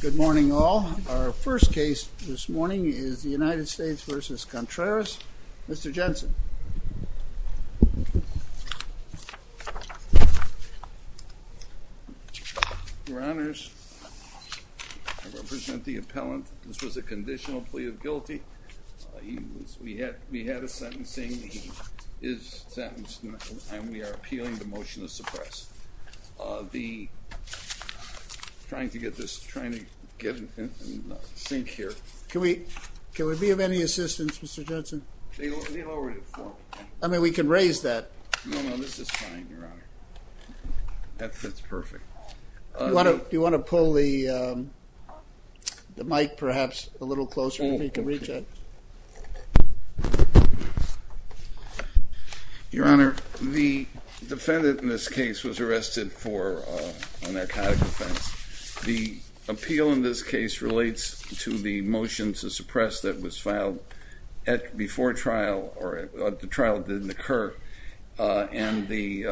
Good morning all. Our first case this morning is the United States v. Contreras. Mr. Jensen. Your Honors, I represent the appellant. This was a conditional plea of guilty. We had a sentencing. He is sentenced and we are appealing the motion to suppress. The, trying to get this, trying to get it in sync here. Can we, can we be of any assistance Mr. Jensen? I mean we can raise that. No, no, this is fine, Your Honor. That fits perfect. Do you want to pull the mic perhaps a little closer so we can reach it? Your Honor, the defendant in this case was arrested for a narcotic offense. The appeal in this case relates to the motion to suppress that was filed at, before trial, or at the trial didn't occur, and the,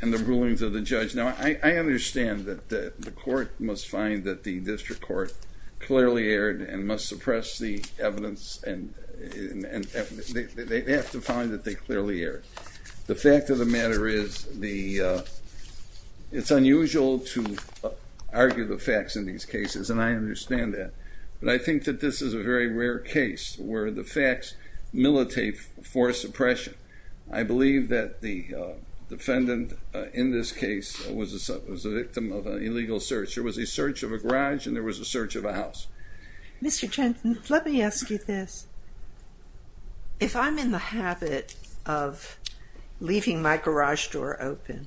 and the rulings of the judge. Now I understand that the court must find that the district court clearly erred and must suppress the evidence and they have to find that they clearly erred. The fact of the matter is the, it's unusual to argue the facts in these cases and I understand that, but I think that this is a very rare case where the facts militate for suppression. I believe that the defendant in this case was a victim of an illegal search. There was a search of a garage and there was a search of a house. Mr. Jensen, let me ask you this. If I'm in the habit of leaving my garage door open,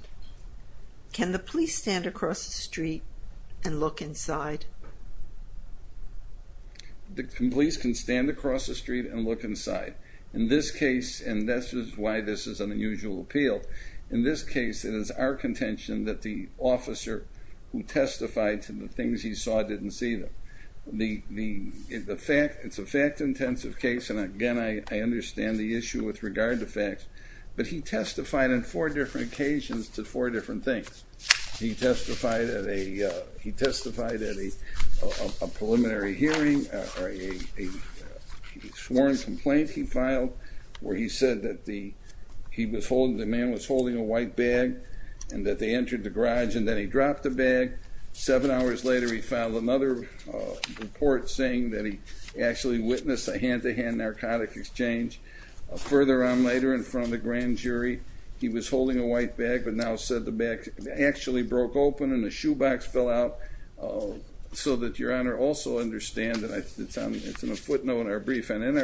can the police stand across the street and look inside? The police can stand across the street and look inside. In this case, and this is why this is an unusual appeal, in this case it is our contention that the officer who testified to the things he saw didn't see them. The fact, it's a fact-intensive case and again I understand the issue with regard to facts, but he testified in four different occasions to four different things. He testified at a, he testified at a preliminary hearing, a sworn complaint he filed where he said that the, he was holding, the man was holding a white bag and that they entered the garage and then he dropped the bag. Seven hours later he filed another report saying that he actually witnessed a hand-to-hand narcotic exchange. Further on later in front of the grand jury, he was holding a white bag but now said the bag actually broke open and the shoebox fell out. So that Your Honor also understand that it's in a footnote in our brief and in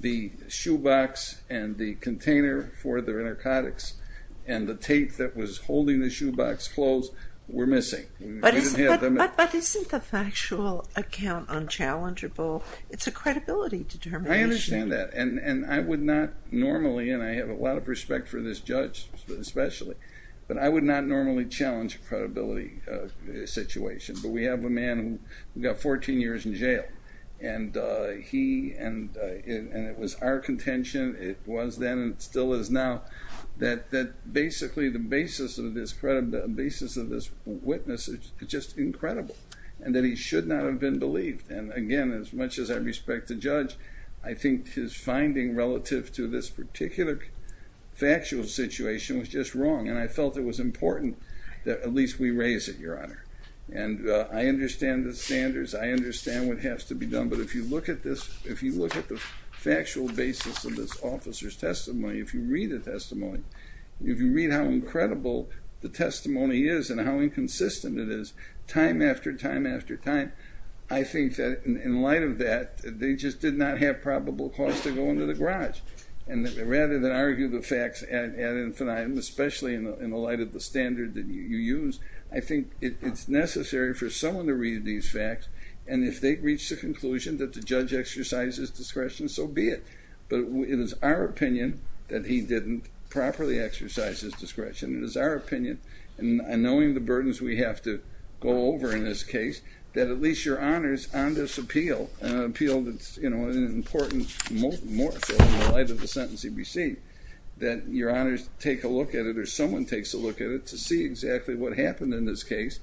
the container for the narcotics and the tape that was holding the shoebox closed were missing. But isn't the factual account unchallengeable? It's a credibility determination. I understand that and I would not normally, and I have a lot of respect for this judge especially, but I would not normally challenge a credibility situation. But we have a man who got 14 years in jail and he, and it was our contention, it was then and still is now, that basically the basis of this witness is just incredible and that he should not have been believed. And again, as much as I respect the judge, I think his finding relative to this particular factual situation was just wrong and I felt it was important that at least we raise it, Your Honor. And I understand the look at this, if you look at the factual basis of this officer's testimony, if you read the testimony, if you read how incredible the testimony is and how inconsistent it is, time after time after time, I think that in light of that they just did not have probable cause to go into the garage. And rather than argue the facts ad infinitum, especially in the light of the standard that you use, I think it's necessary for someone to read these facts and if they reach the judge exercises discretion, so be it. But it is our opinion that he didn't properly exercise his discretion. It is our opinion, and knowing the burdens we have to go over in this case, that at least Your Honor's on this appeal, an appeal that's, you know, an important more so in the light of the sentence he received, that Your Honor's take a look at it or someone takes a look at it to see exactly what happened in this case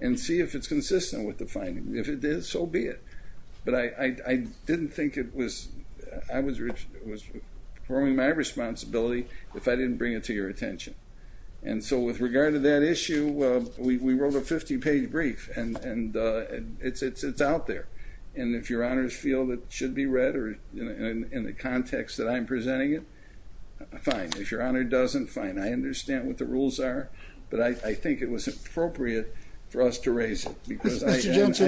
and see if it's consistent with the statute. But I didn't think it was, I was performing my responsibility if I didn't bring it to your attention. And so with regard to that issue, we wrote a 50-page brief and it's out there. And if Your Honor's feel that it should be read or in the context that I'm presenting it, fine. If Your Honor doesn't, fine. I understand what the rules are, but I think it was appropriate for us to raise it, because I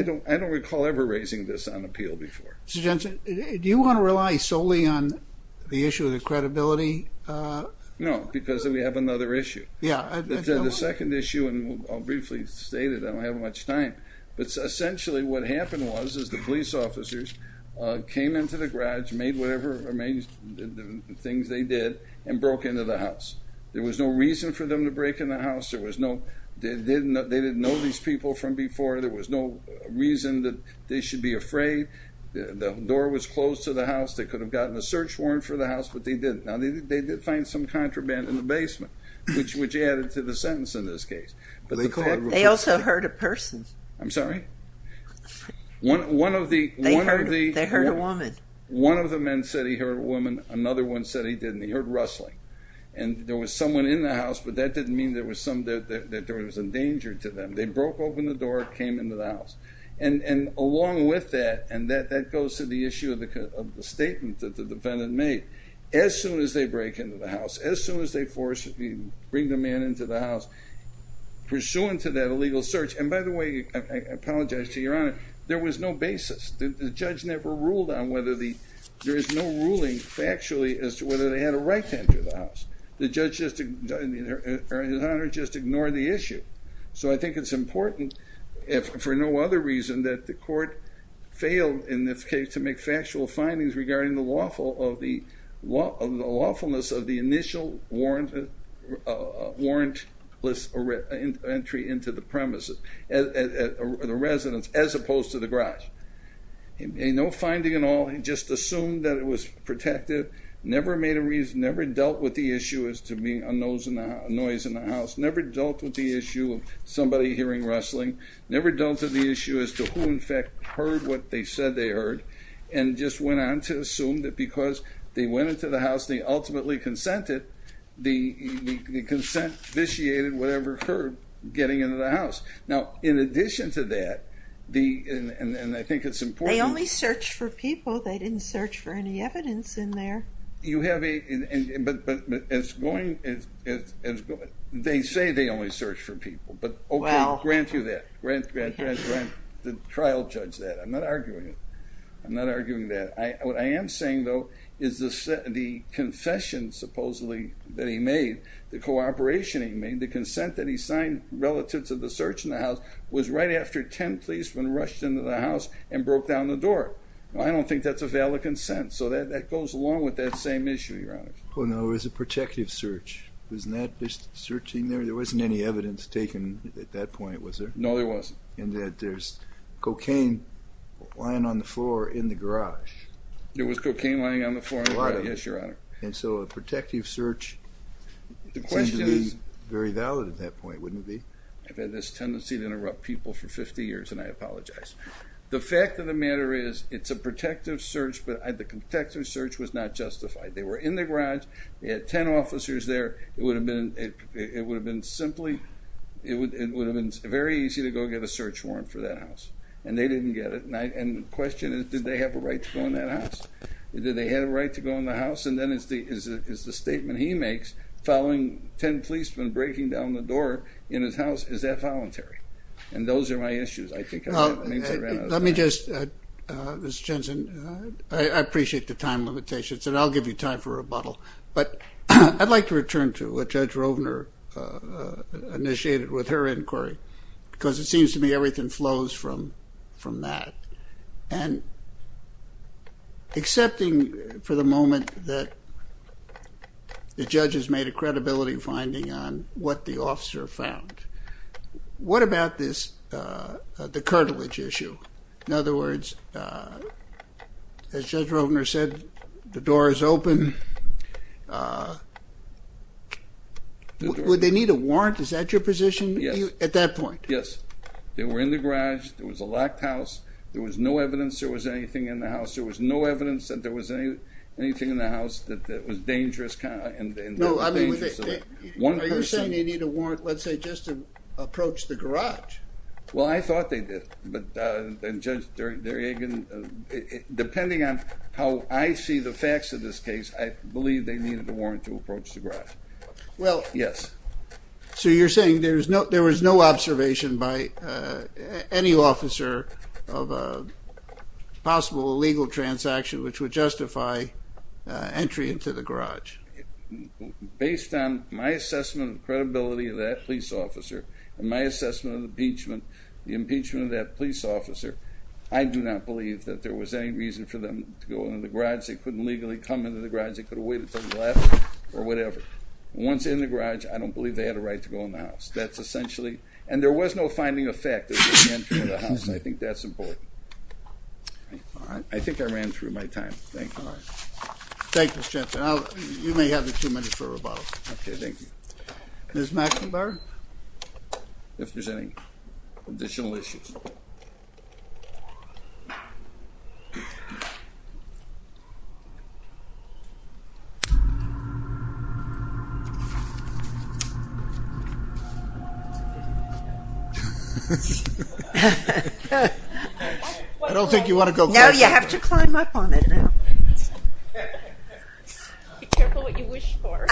don't recall ever raising this on appeal before. Mr. Jensen, do you want to rely solely on the issue of the credibility? No, because we have another issue. Yeah. The second issue, and I'll briefly state it, I don't have much time, but essentially what happened was, is the police officers came into the garage, made whatever things they did, and broke into the house. There was no reason for them to break in the house, there was no, they didn't know these people from before, there was no reason that they should be afraid. The door was closed to the house, they could have gotten a search warrant for the house, but they didn't. Now they did find some contraband in the basement, which added to the sentence in this case. They also heard a person. I'm sorry? One of the men said he heard a woman, another one said he didn't, he heard rustling. And there was someone in the They broke open the door, came into the house. And along with that, and that goes to the issue of the statement that the defendant made. As soon as they break into the house, as soon as they force, bring the man into the house, pursuant to that illegal search, and by the way, I apologize to your honor, there was no basis. The judge never ruled on whether the, there is no ruling factually as to whether they had a right to enter the house. The judge just, his honor, just I think it's important, if for no other reason, that the court failed in this case to make factual findings regarding the lawful of the, the lawfulness of the initial warrant, warrantless entry into the premises, the residence, as opposed to the garage. No finding at all, he just assumed that it was protective, never made a reason, never dealt with the issue as to being a noise in the hearing rustling, never dealt with the issue as to who in fact heard what they said they heard, and just went on to assume that because they went into the house, they ultimately consented, the consent vitiated whatever occurred getting into the house. Now, in addition to that, the, and I think it's important They only searched for people, they didn't search for any evidence in there. You have a, but it's going, they say they only search for people, but okay, grant you that, grant, grant, grant, grant, the trial judge that. I'm not arguing it, I'm not arguing that. What I am saying though, is the confession supposedly that he made, the cooperation he made, the consent that he signed relative to the search in the house, was right after ten policemen rushed into the house and broke down the door. I don't think that's a valid consent, so that goes along with that same issue, your honor. Oh no, it was a protective search, it was not just taken at that point, was there? No, there wasn't. And that there's cocaine lying on the floor in the garage. There was cocaine lying on the floor, yes, your honor. And so a protective search seems to be very valid at that point, wouldn't it be? I've had this tendency to interrupt people for 50 years, and I apologize. The fact of the matter is, it's a protective search, but the protective search was not justified. They were in the garage, they had ten officers there, it would have been simply, it would have been very easy to go get a search warrant for that house, and they didn't get it, and the question is, did they have a right to go in that house? Did they have a right to go in the house? And then is the statement he makes, following ten policemen breaking down the door in his house, is that voluntary? And those are my issues, I think. Let me just, Mr. Jensen, I appreciate the time limitations and I'll give you time for rebuttal, but I'd like to return to what Judge Rovner initiated with her inquiry, because it seems to me everything flows from that, and excepting for the moment that the judge has made a credibility finding on what the officer found, what about this, the cartilage issue? In other words, as Judge Rovner said, the door is open. Would they need a warrant, is that your position? Yes. At that point? Yes, they were in the garage, there was a locked house, there was no evidence there was anything in the house, there was no evidence that there was anything in the house that was dangerous. No, I mean, are you saying they need a warrant, let's say, just to approach the garage? Well, I thought they did, but Judge Derjagin, depending on how I see the facts of this case, I believe they needed a warrant to approach the garage. Well, yes. So you're saying there was no observation by any officer of a possible illegal transaction which would justify entry into the garage? Based on my assessment of credibility of that police officer, and my assessment of the impeachment of that police officer, I do not believe that there was any reason for them to go into the garage, they couldn't legally come into the garage, they could have waited until you left, or whatever. Once in the garage, I don't believe they had a right to go in the house. That's essentially, and there was no finding of fact that they ran through the house, I think that's important. I think I ran through my time, thank you. Thank you, Mr. Jensen. You may have the two minutes for rebuttal. Okay, thank you. Ms. McIntyre, if there's any additional issues. I don't think you want to go first. No, you have to climb up on it now. Be careful what you wish for.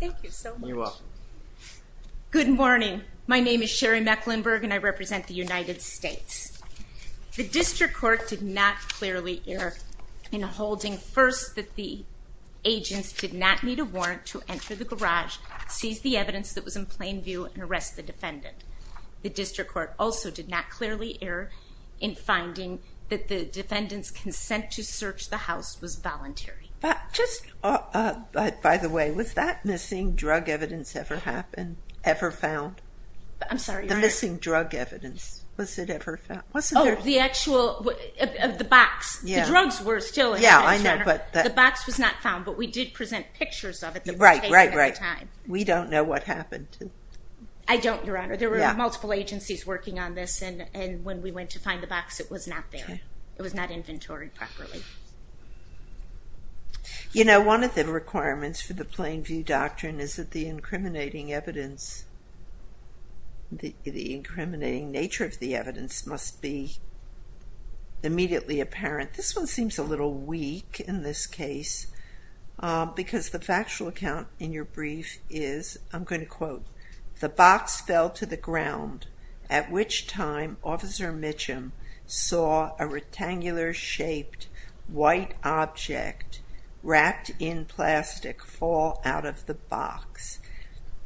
Thank you so much. You're welcome. Good morning, my name is Sherry Mecklenburg and I represent the United States. The district court did not clearly err in holding first that the agents did not need a warrant to enter the garage, seize the evidence that was in plain view, and arrest the defendant. The district court also did not clearly err in finding that the defendant's consent to search the house was voluntary. By the way, was that missing drug evidence ever found? Oh, the actual, the box. The drugs were still in the box, but the box was not found, but we did present pictures of it. Right, right, right. We don't know what happened. I don't, Your Honor. There were multiple agencies working on this and when we went to find the box, it was not there. It was not inventoried properly. You know, one of the requirements for the plain view doctrine is that the incriminating evidence, the incriminating nature of the evidence must be immediately apparent. This one seems a little weak in this case because the factual account in your brief is, I'm going to quote, the box fell to the ground at which time Officer Mitchum saw a rectangular shaped white object wrapped in plastic fall out of the box.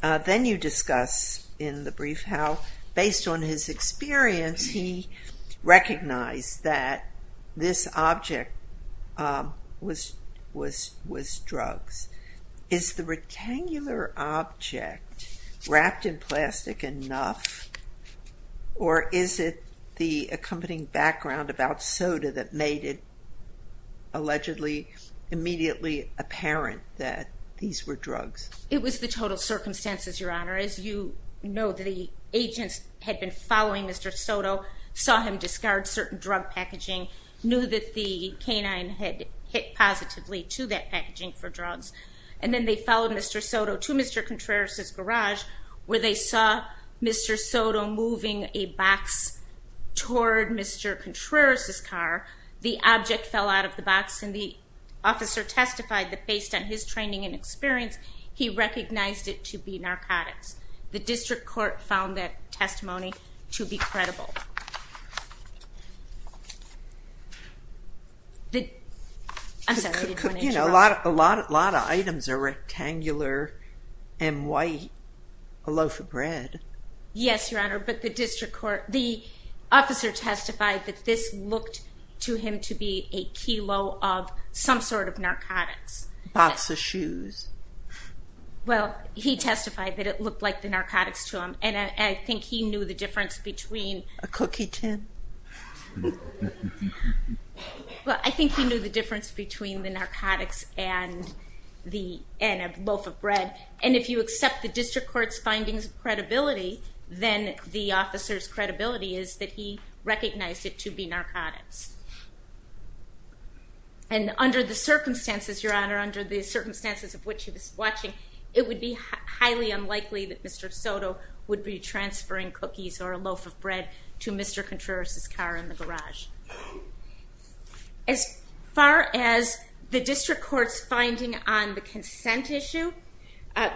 Then you discuss in the brief how, based on his experience, he recognized that this object was drugs. Is the rectangular object wrapped in plastic enough, or is it the accompanying background about soda that made it allegedly immediately apparent that these were drugs? It was the total circumstances, Your Honor. As you know, the agents had been following Mr. Soto, saw him discard certain drug packaging, knew that the canine had hit positively to that packaging for drugs, and then they followed Mr. Soto to Mr. Contreras' garage where they saw Mr. Soto moving a box toward Mr. Contreras' car. The object fell out of the box and the officer testified that, based on his training and experience, he recognized it to be narcotics. The district court found that testimony to be credible. A lot of items are rectangular and white, a loaf of bread. Yes, Your Honor, but the district court, the officer testified that this looked to him to be a kilo of some sort of narcotics. Box of shoes. Well, he testified that it looked like the cookie tin. Well, I think he knew the difference between the narcotics and the loaf of bread, and if you accept the district court's findings of credibility, then the officer's credibility is that he recognized it to be narcotics. And under the circumstances, Your Honor, under the circumstances of which he was watching, it would be highly unlikely that Mr. Soto would be to Mr. Contreras' car in the garage. As far as the district court's finding on the consent issue,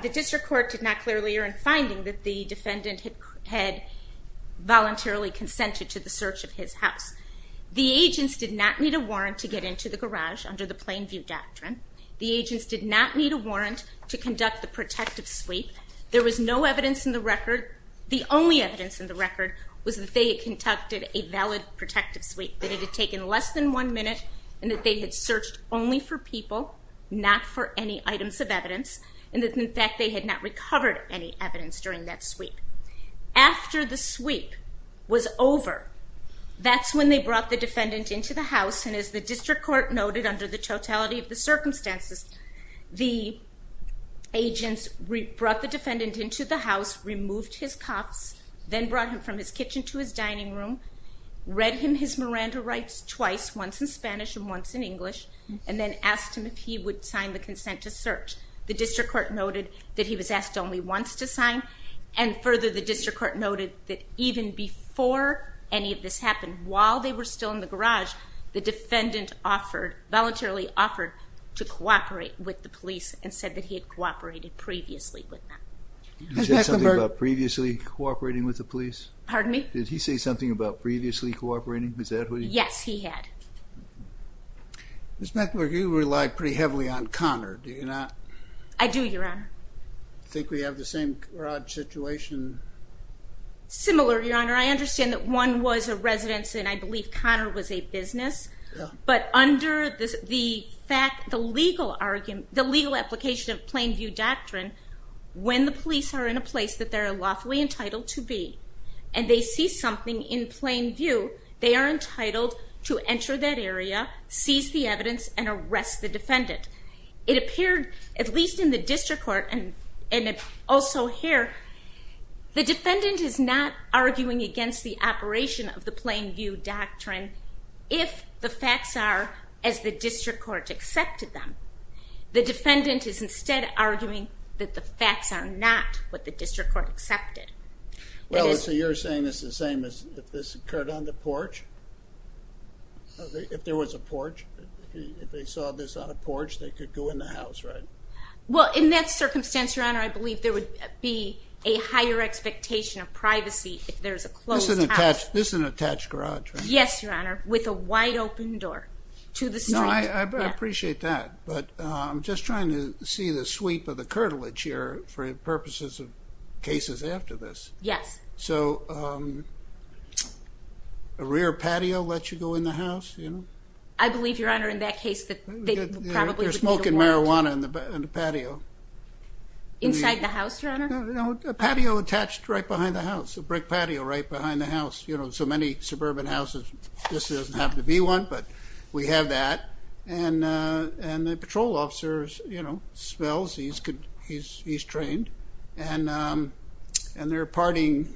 the district court did not clearly earn finding that the defendant had voluntarily consented to the search of his house. The agents did not need a warrant to get into the garage under the plain view doctrine. The agents did not need a warrant to conduct the protective sweep. There was no evidence in the record was that they had conducted a valid protective sweep, that it had taken less than one minute, and that they had searched only for people, not for any items of evidence, and that in fact they had not recovered any evidence during that sweep. After the sweep was over, that's when they brought the defendant into the house, and as the district court noted under the totality of the circumstances, the agents brought the defendant into the house, removed his cuffs, then brought him from his kitchen to his dining room, read him his Miranda rights twice, once in Spanish and once in English, and then asked him if he would sign the consent to search. The district court noted that he was asked only once to sign, and further the district court noted that even before any of this happened, while they were still in the garage, the defendant voluntarily offered to cooperate with the police and said that he cooperated previously with them. Did he say something about previously cooperating with the police? Pardon me? Did he say something about previously cooperating? Yes, he had. Ms. Meckler, you relied pretty heavily on Connor, did you not? I do, Your Honor. I think we have the same garage situation. Similar, Your Honor. I understand that one was a residence, and I believe Connor was a business, but under the fact, the legal application of Plain View Doctrine, when the police are in a place that they're lawfully entitled to be, and they see something in plain view, they are entitled to enter that area, seize the evidence, and arrest the defendant. It appeared, at least in the district court, and also here, the defendant is not arguing against the operation of the Plain View Doctrine, if the facts are as the district court accepted them. The defendant is instead arguing that the facts are not what the district court accepted. Well, so you're saying it's the same as if this occurred on the porch? If there was a porch, if they saw this on a porch, they could go in the house, right? Well, in that circumstance, Your Honor, I believe there would be a higher expectation of privacy if there's a closed house. This is an attached garage, right? Yes, Your Honor, with a wide open door to the I appreciate that, but I'm just trying to see the sweep of the curtilage here for purposes of cases after this. Yes. So a rear patio lets you go in the house, you know? I believe, Your Honor, in that case, that they probably would be aware of it. You're smoking marijuana in the patio. Inside the house, Your Honor? No, a patio attached right behind the house, a brick patio right behind the house, you know, so many suburban houses, this doesn't have to be one, but we have that, and the patrol officer, you know, smells, he's trained, and they're partying,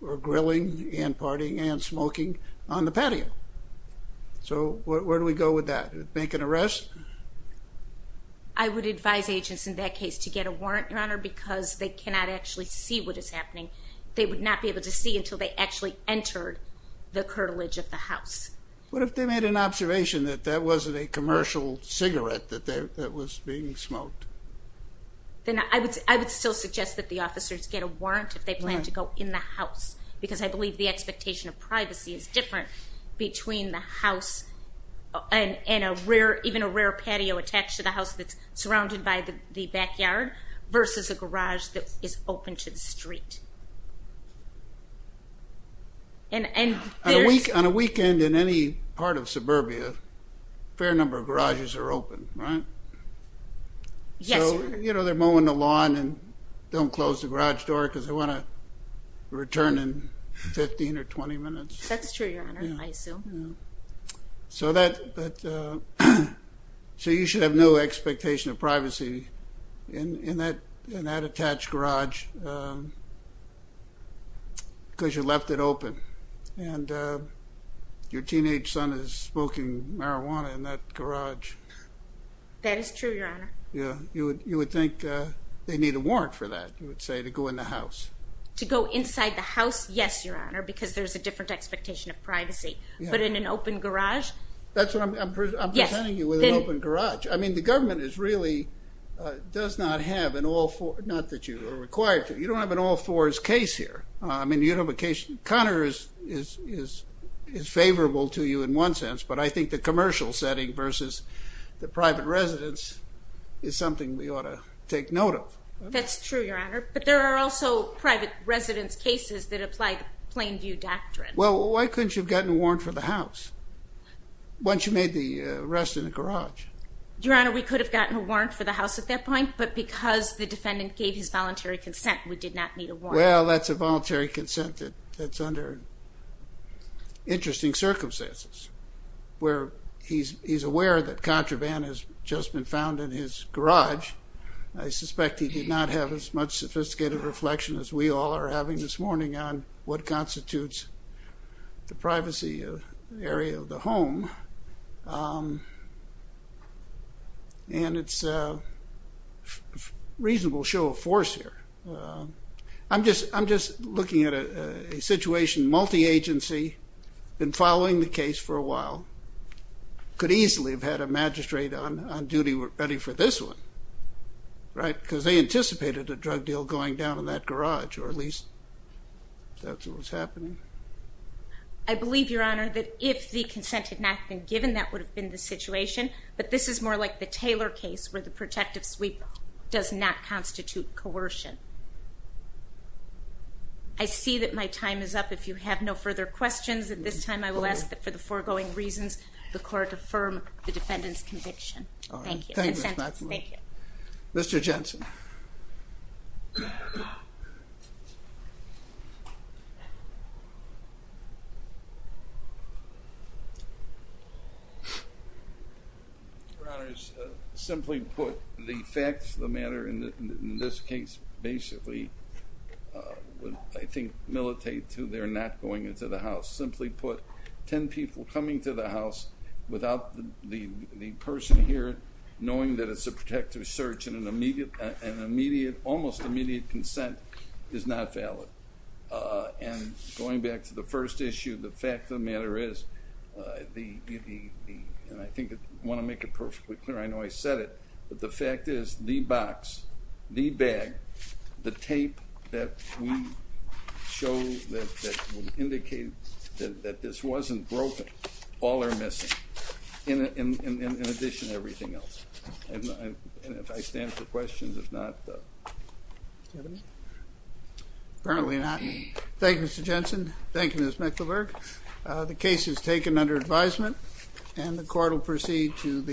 or grilling, and partying, and smoking on the patio. So where do we go with that? Make an arrest? I would advise agents in that case to get a warrant, Your Honor, because they cannot actually see what is happening. They would not be able to see until they actually entered the curtilage of the house. It's my observation that that wasn't a commercial cigarette that was being smoked. Then I would still suggest that the officers get a warrant if they plan to go in the house, because I believe the expectation of privacy is different between the house and a rear, even a rear patio attached to the house that's surrounded by the backyard, versus a garage that is open to the street. On a weekend in any part of suburbia, a fair number of garages are open, right? Yes, Your Honor. So, you know, they're mowing the lawn and don't close the garage door because they want to return in 15 or 20 minutes. That's true, Your Honor, I assume. So you should have no attached garage because you left it open and your teenage son is smoking marijuana in that garage. That is true, Your Honor. Yeah, you would think they need a warrant for that, you would say, to go in the house. To go inside the house? Yes, Your Honor, because there's a different expectation of privacy, but in an open garage? That's what I'm presenting you with, an open garage. I mean, the government is not having all four, not that you are required to, you don't have an all fours case here. I mean, you don't have a case, Connor is favorable to you in one sense, but I think the commercial setting versus the private residence is something we ought to take note of. That's true, Your Honor, but there are also private residence cases that apply the Plainview Doctrine. Well, why couldn't you have gotten a warrant for the house once you made the arrest in the garage? Your Honor, we could have gotten a warrant because the defendant gave his voluntary consent, we did not need a warrant. Well, that's a voluntary consent that's under interesting circumstances, where he's aware that contraband has just been found in his garage. I suspect he did not have as much sophisticated reflection as we all are having this morning on what reasonable show of force here. I'm just looking at a situation, multi-agency, been following the case for a while, could easily have had a magistrate on duty ready for this one, right, because they anticipated a drug deal going down in that garage or at least that's what was happening. I believe, Your Honor, that if the consent had not been given, that would have been the situation, but this is more like the Taylor case where the protective sweep does not constitute coercion. I see that my time is up. If you have no further questions at this time, I will ask that for the foregoing reasons, the court affirm the defendant's conviction. Thank you. Thank you. Mr. Jensen. Your Honors, simply put, the facts of the matter in this case basically, I think, militate to their not going into the house. Simply put, ten people coming to the house without the person here knowing that it's a protective search and an immediate, almost immediate consent is not valid. And going back to the first issue, the fact of the matter is, and I think I want to make it perfectly clear, I know I said it, but the fact is the box, the bag, the tape that we show that would indicate that this wasn't broken, all are missing, in I stand for questions, if not... Apparently not. Thank you, Mr. Jensen. Thank you, Ms. Mecklenburg. The case is taken under advisement and the court will proceed to the...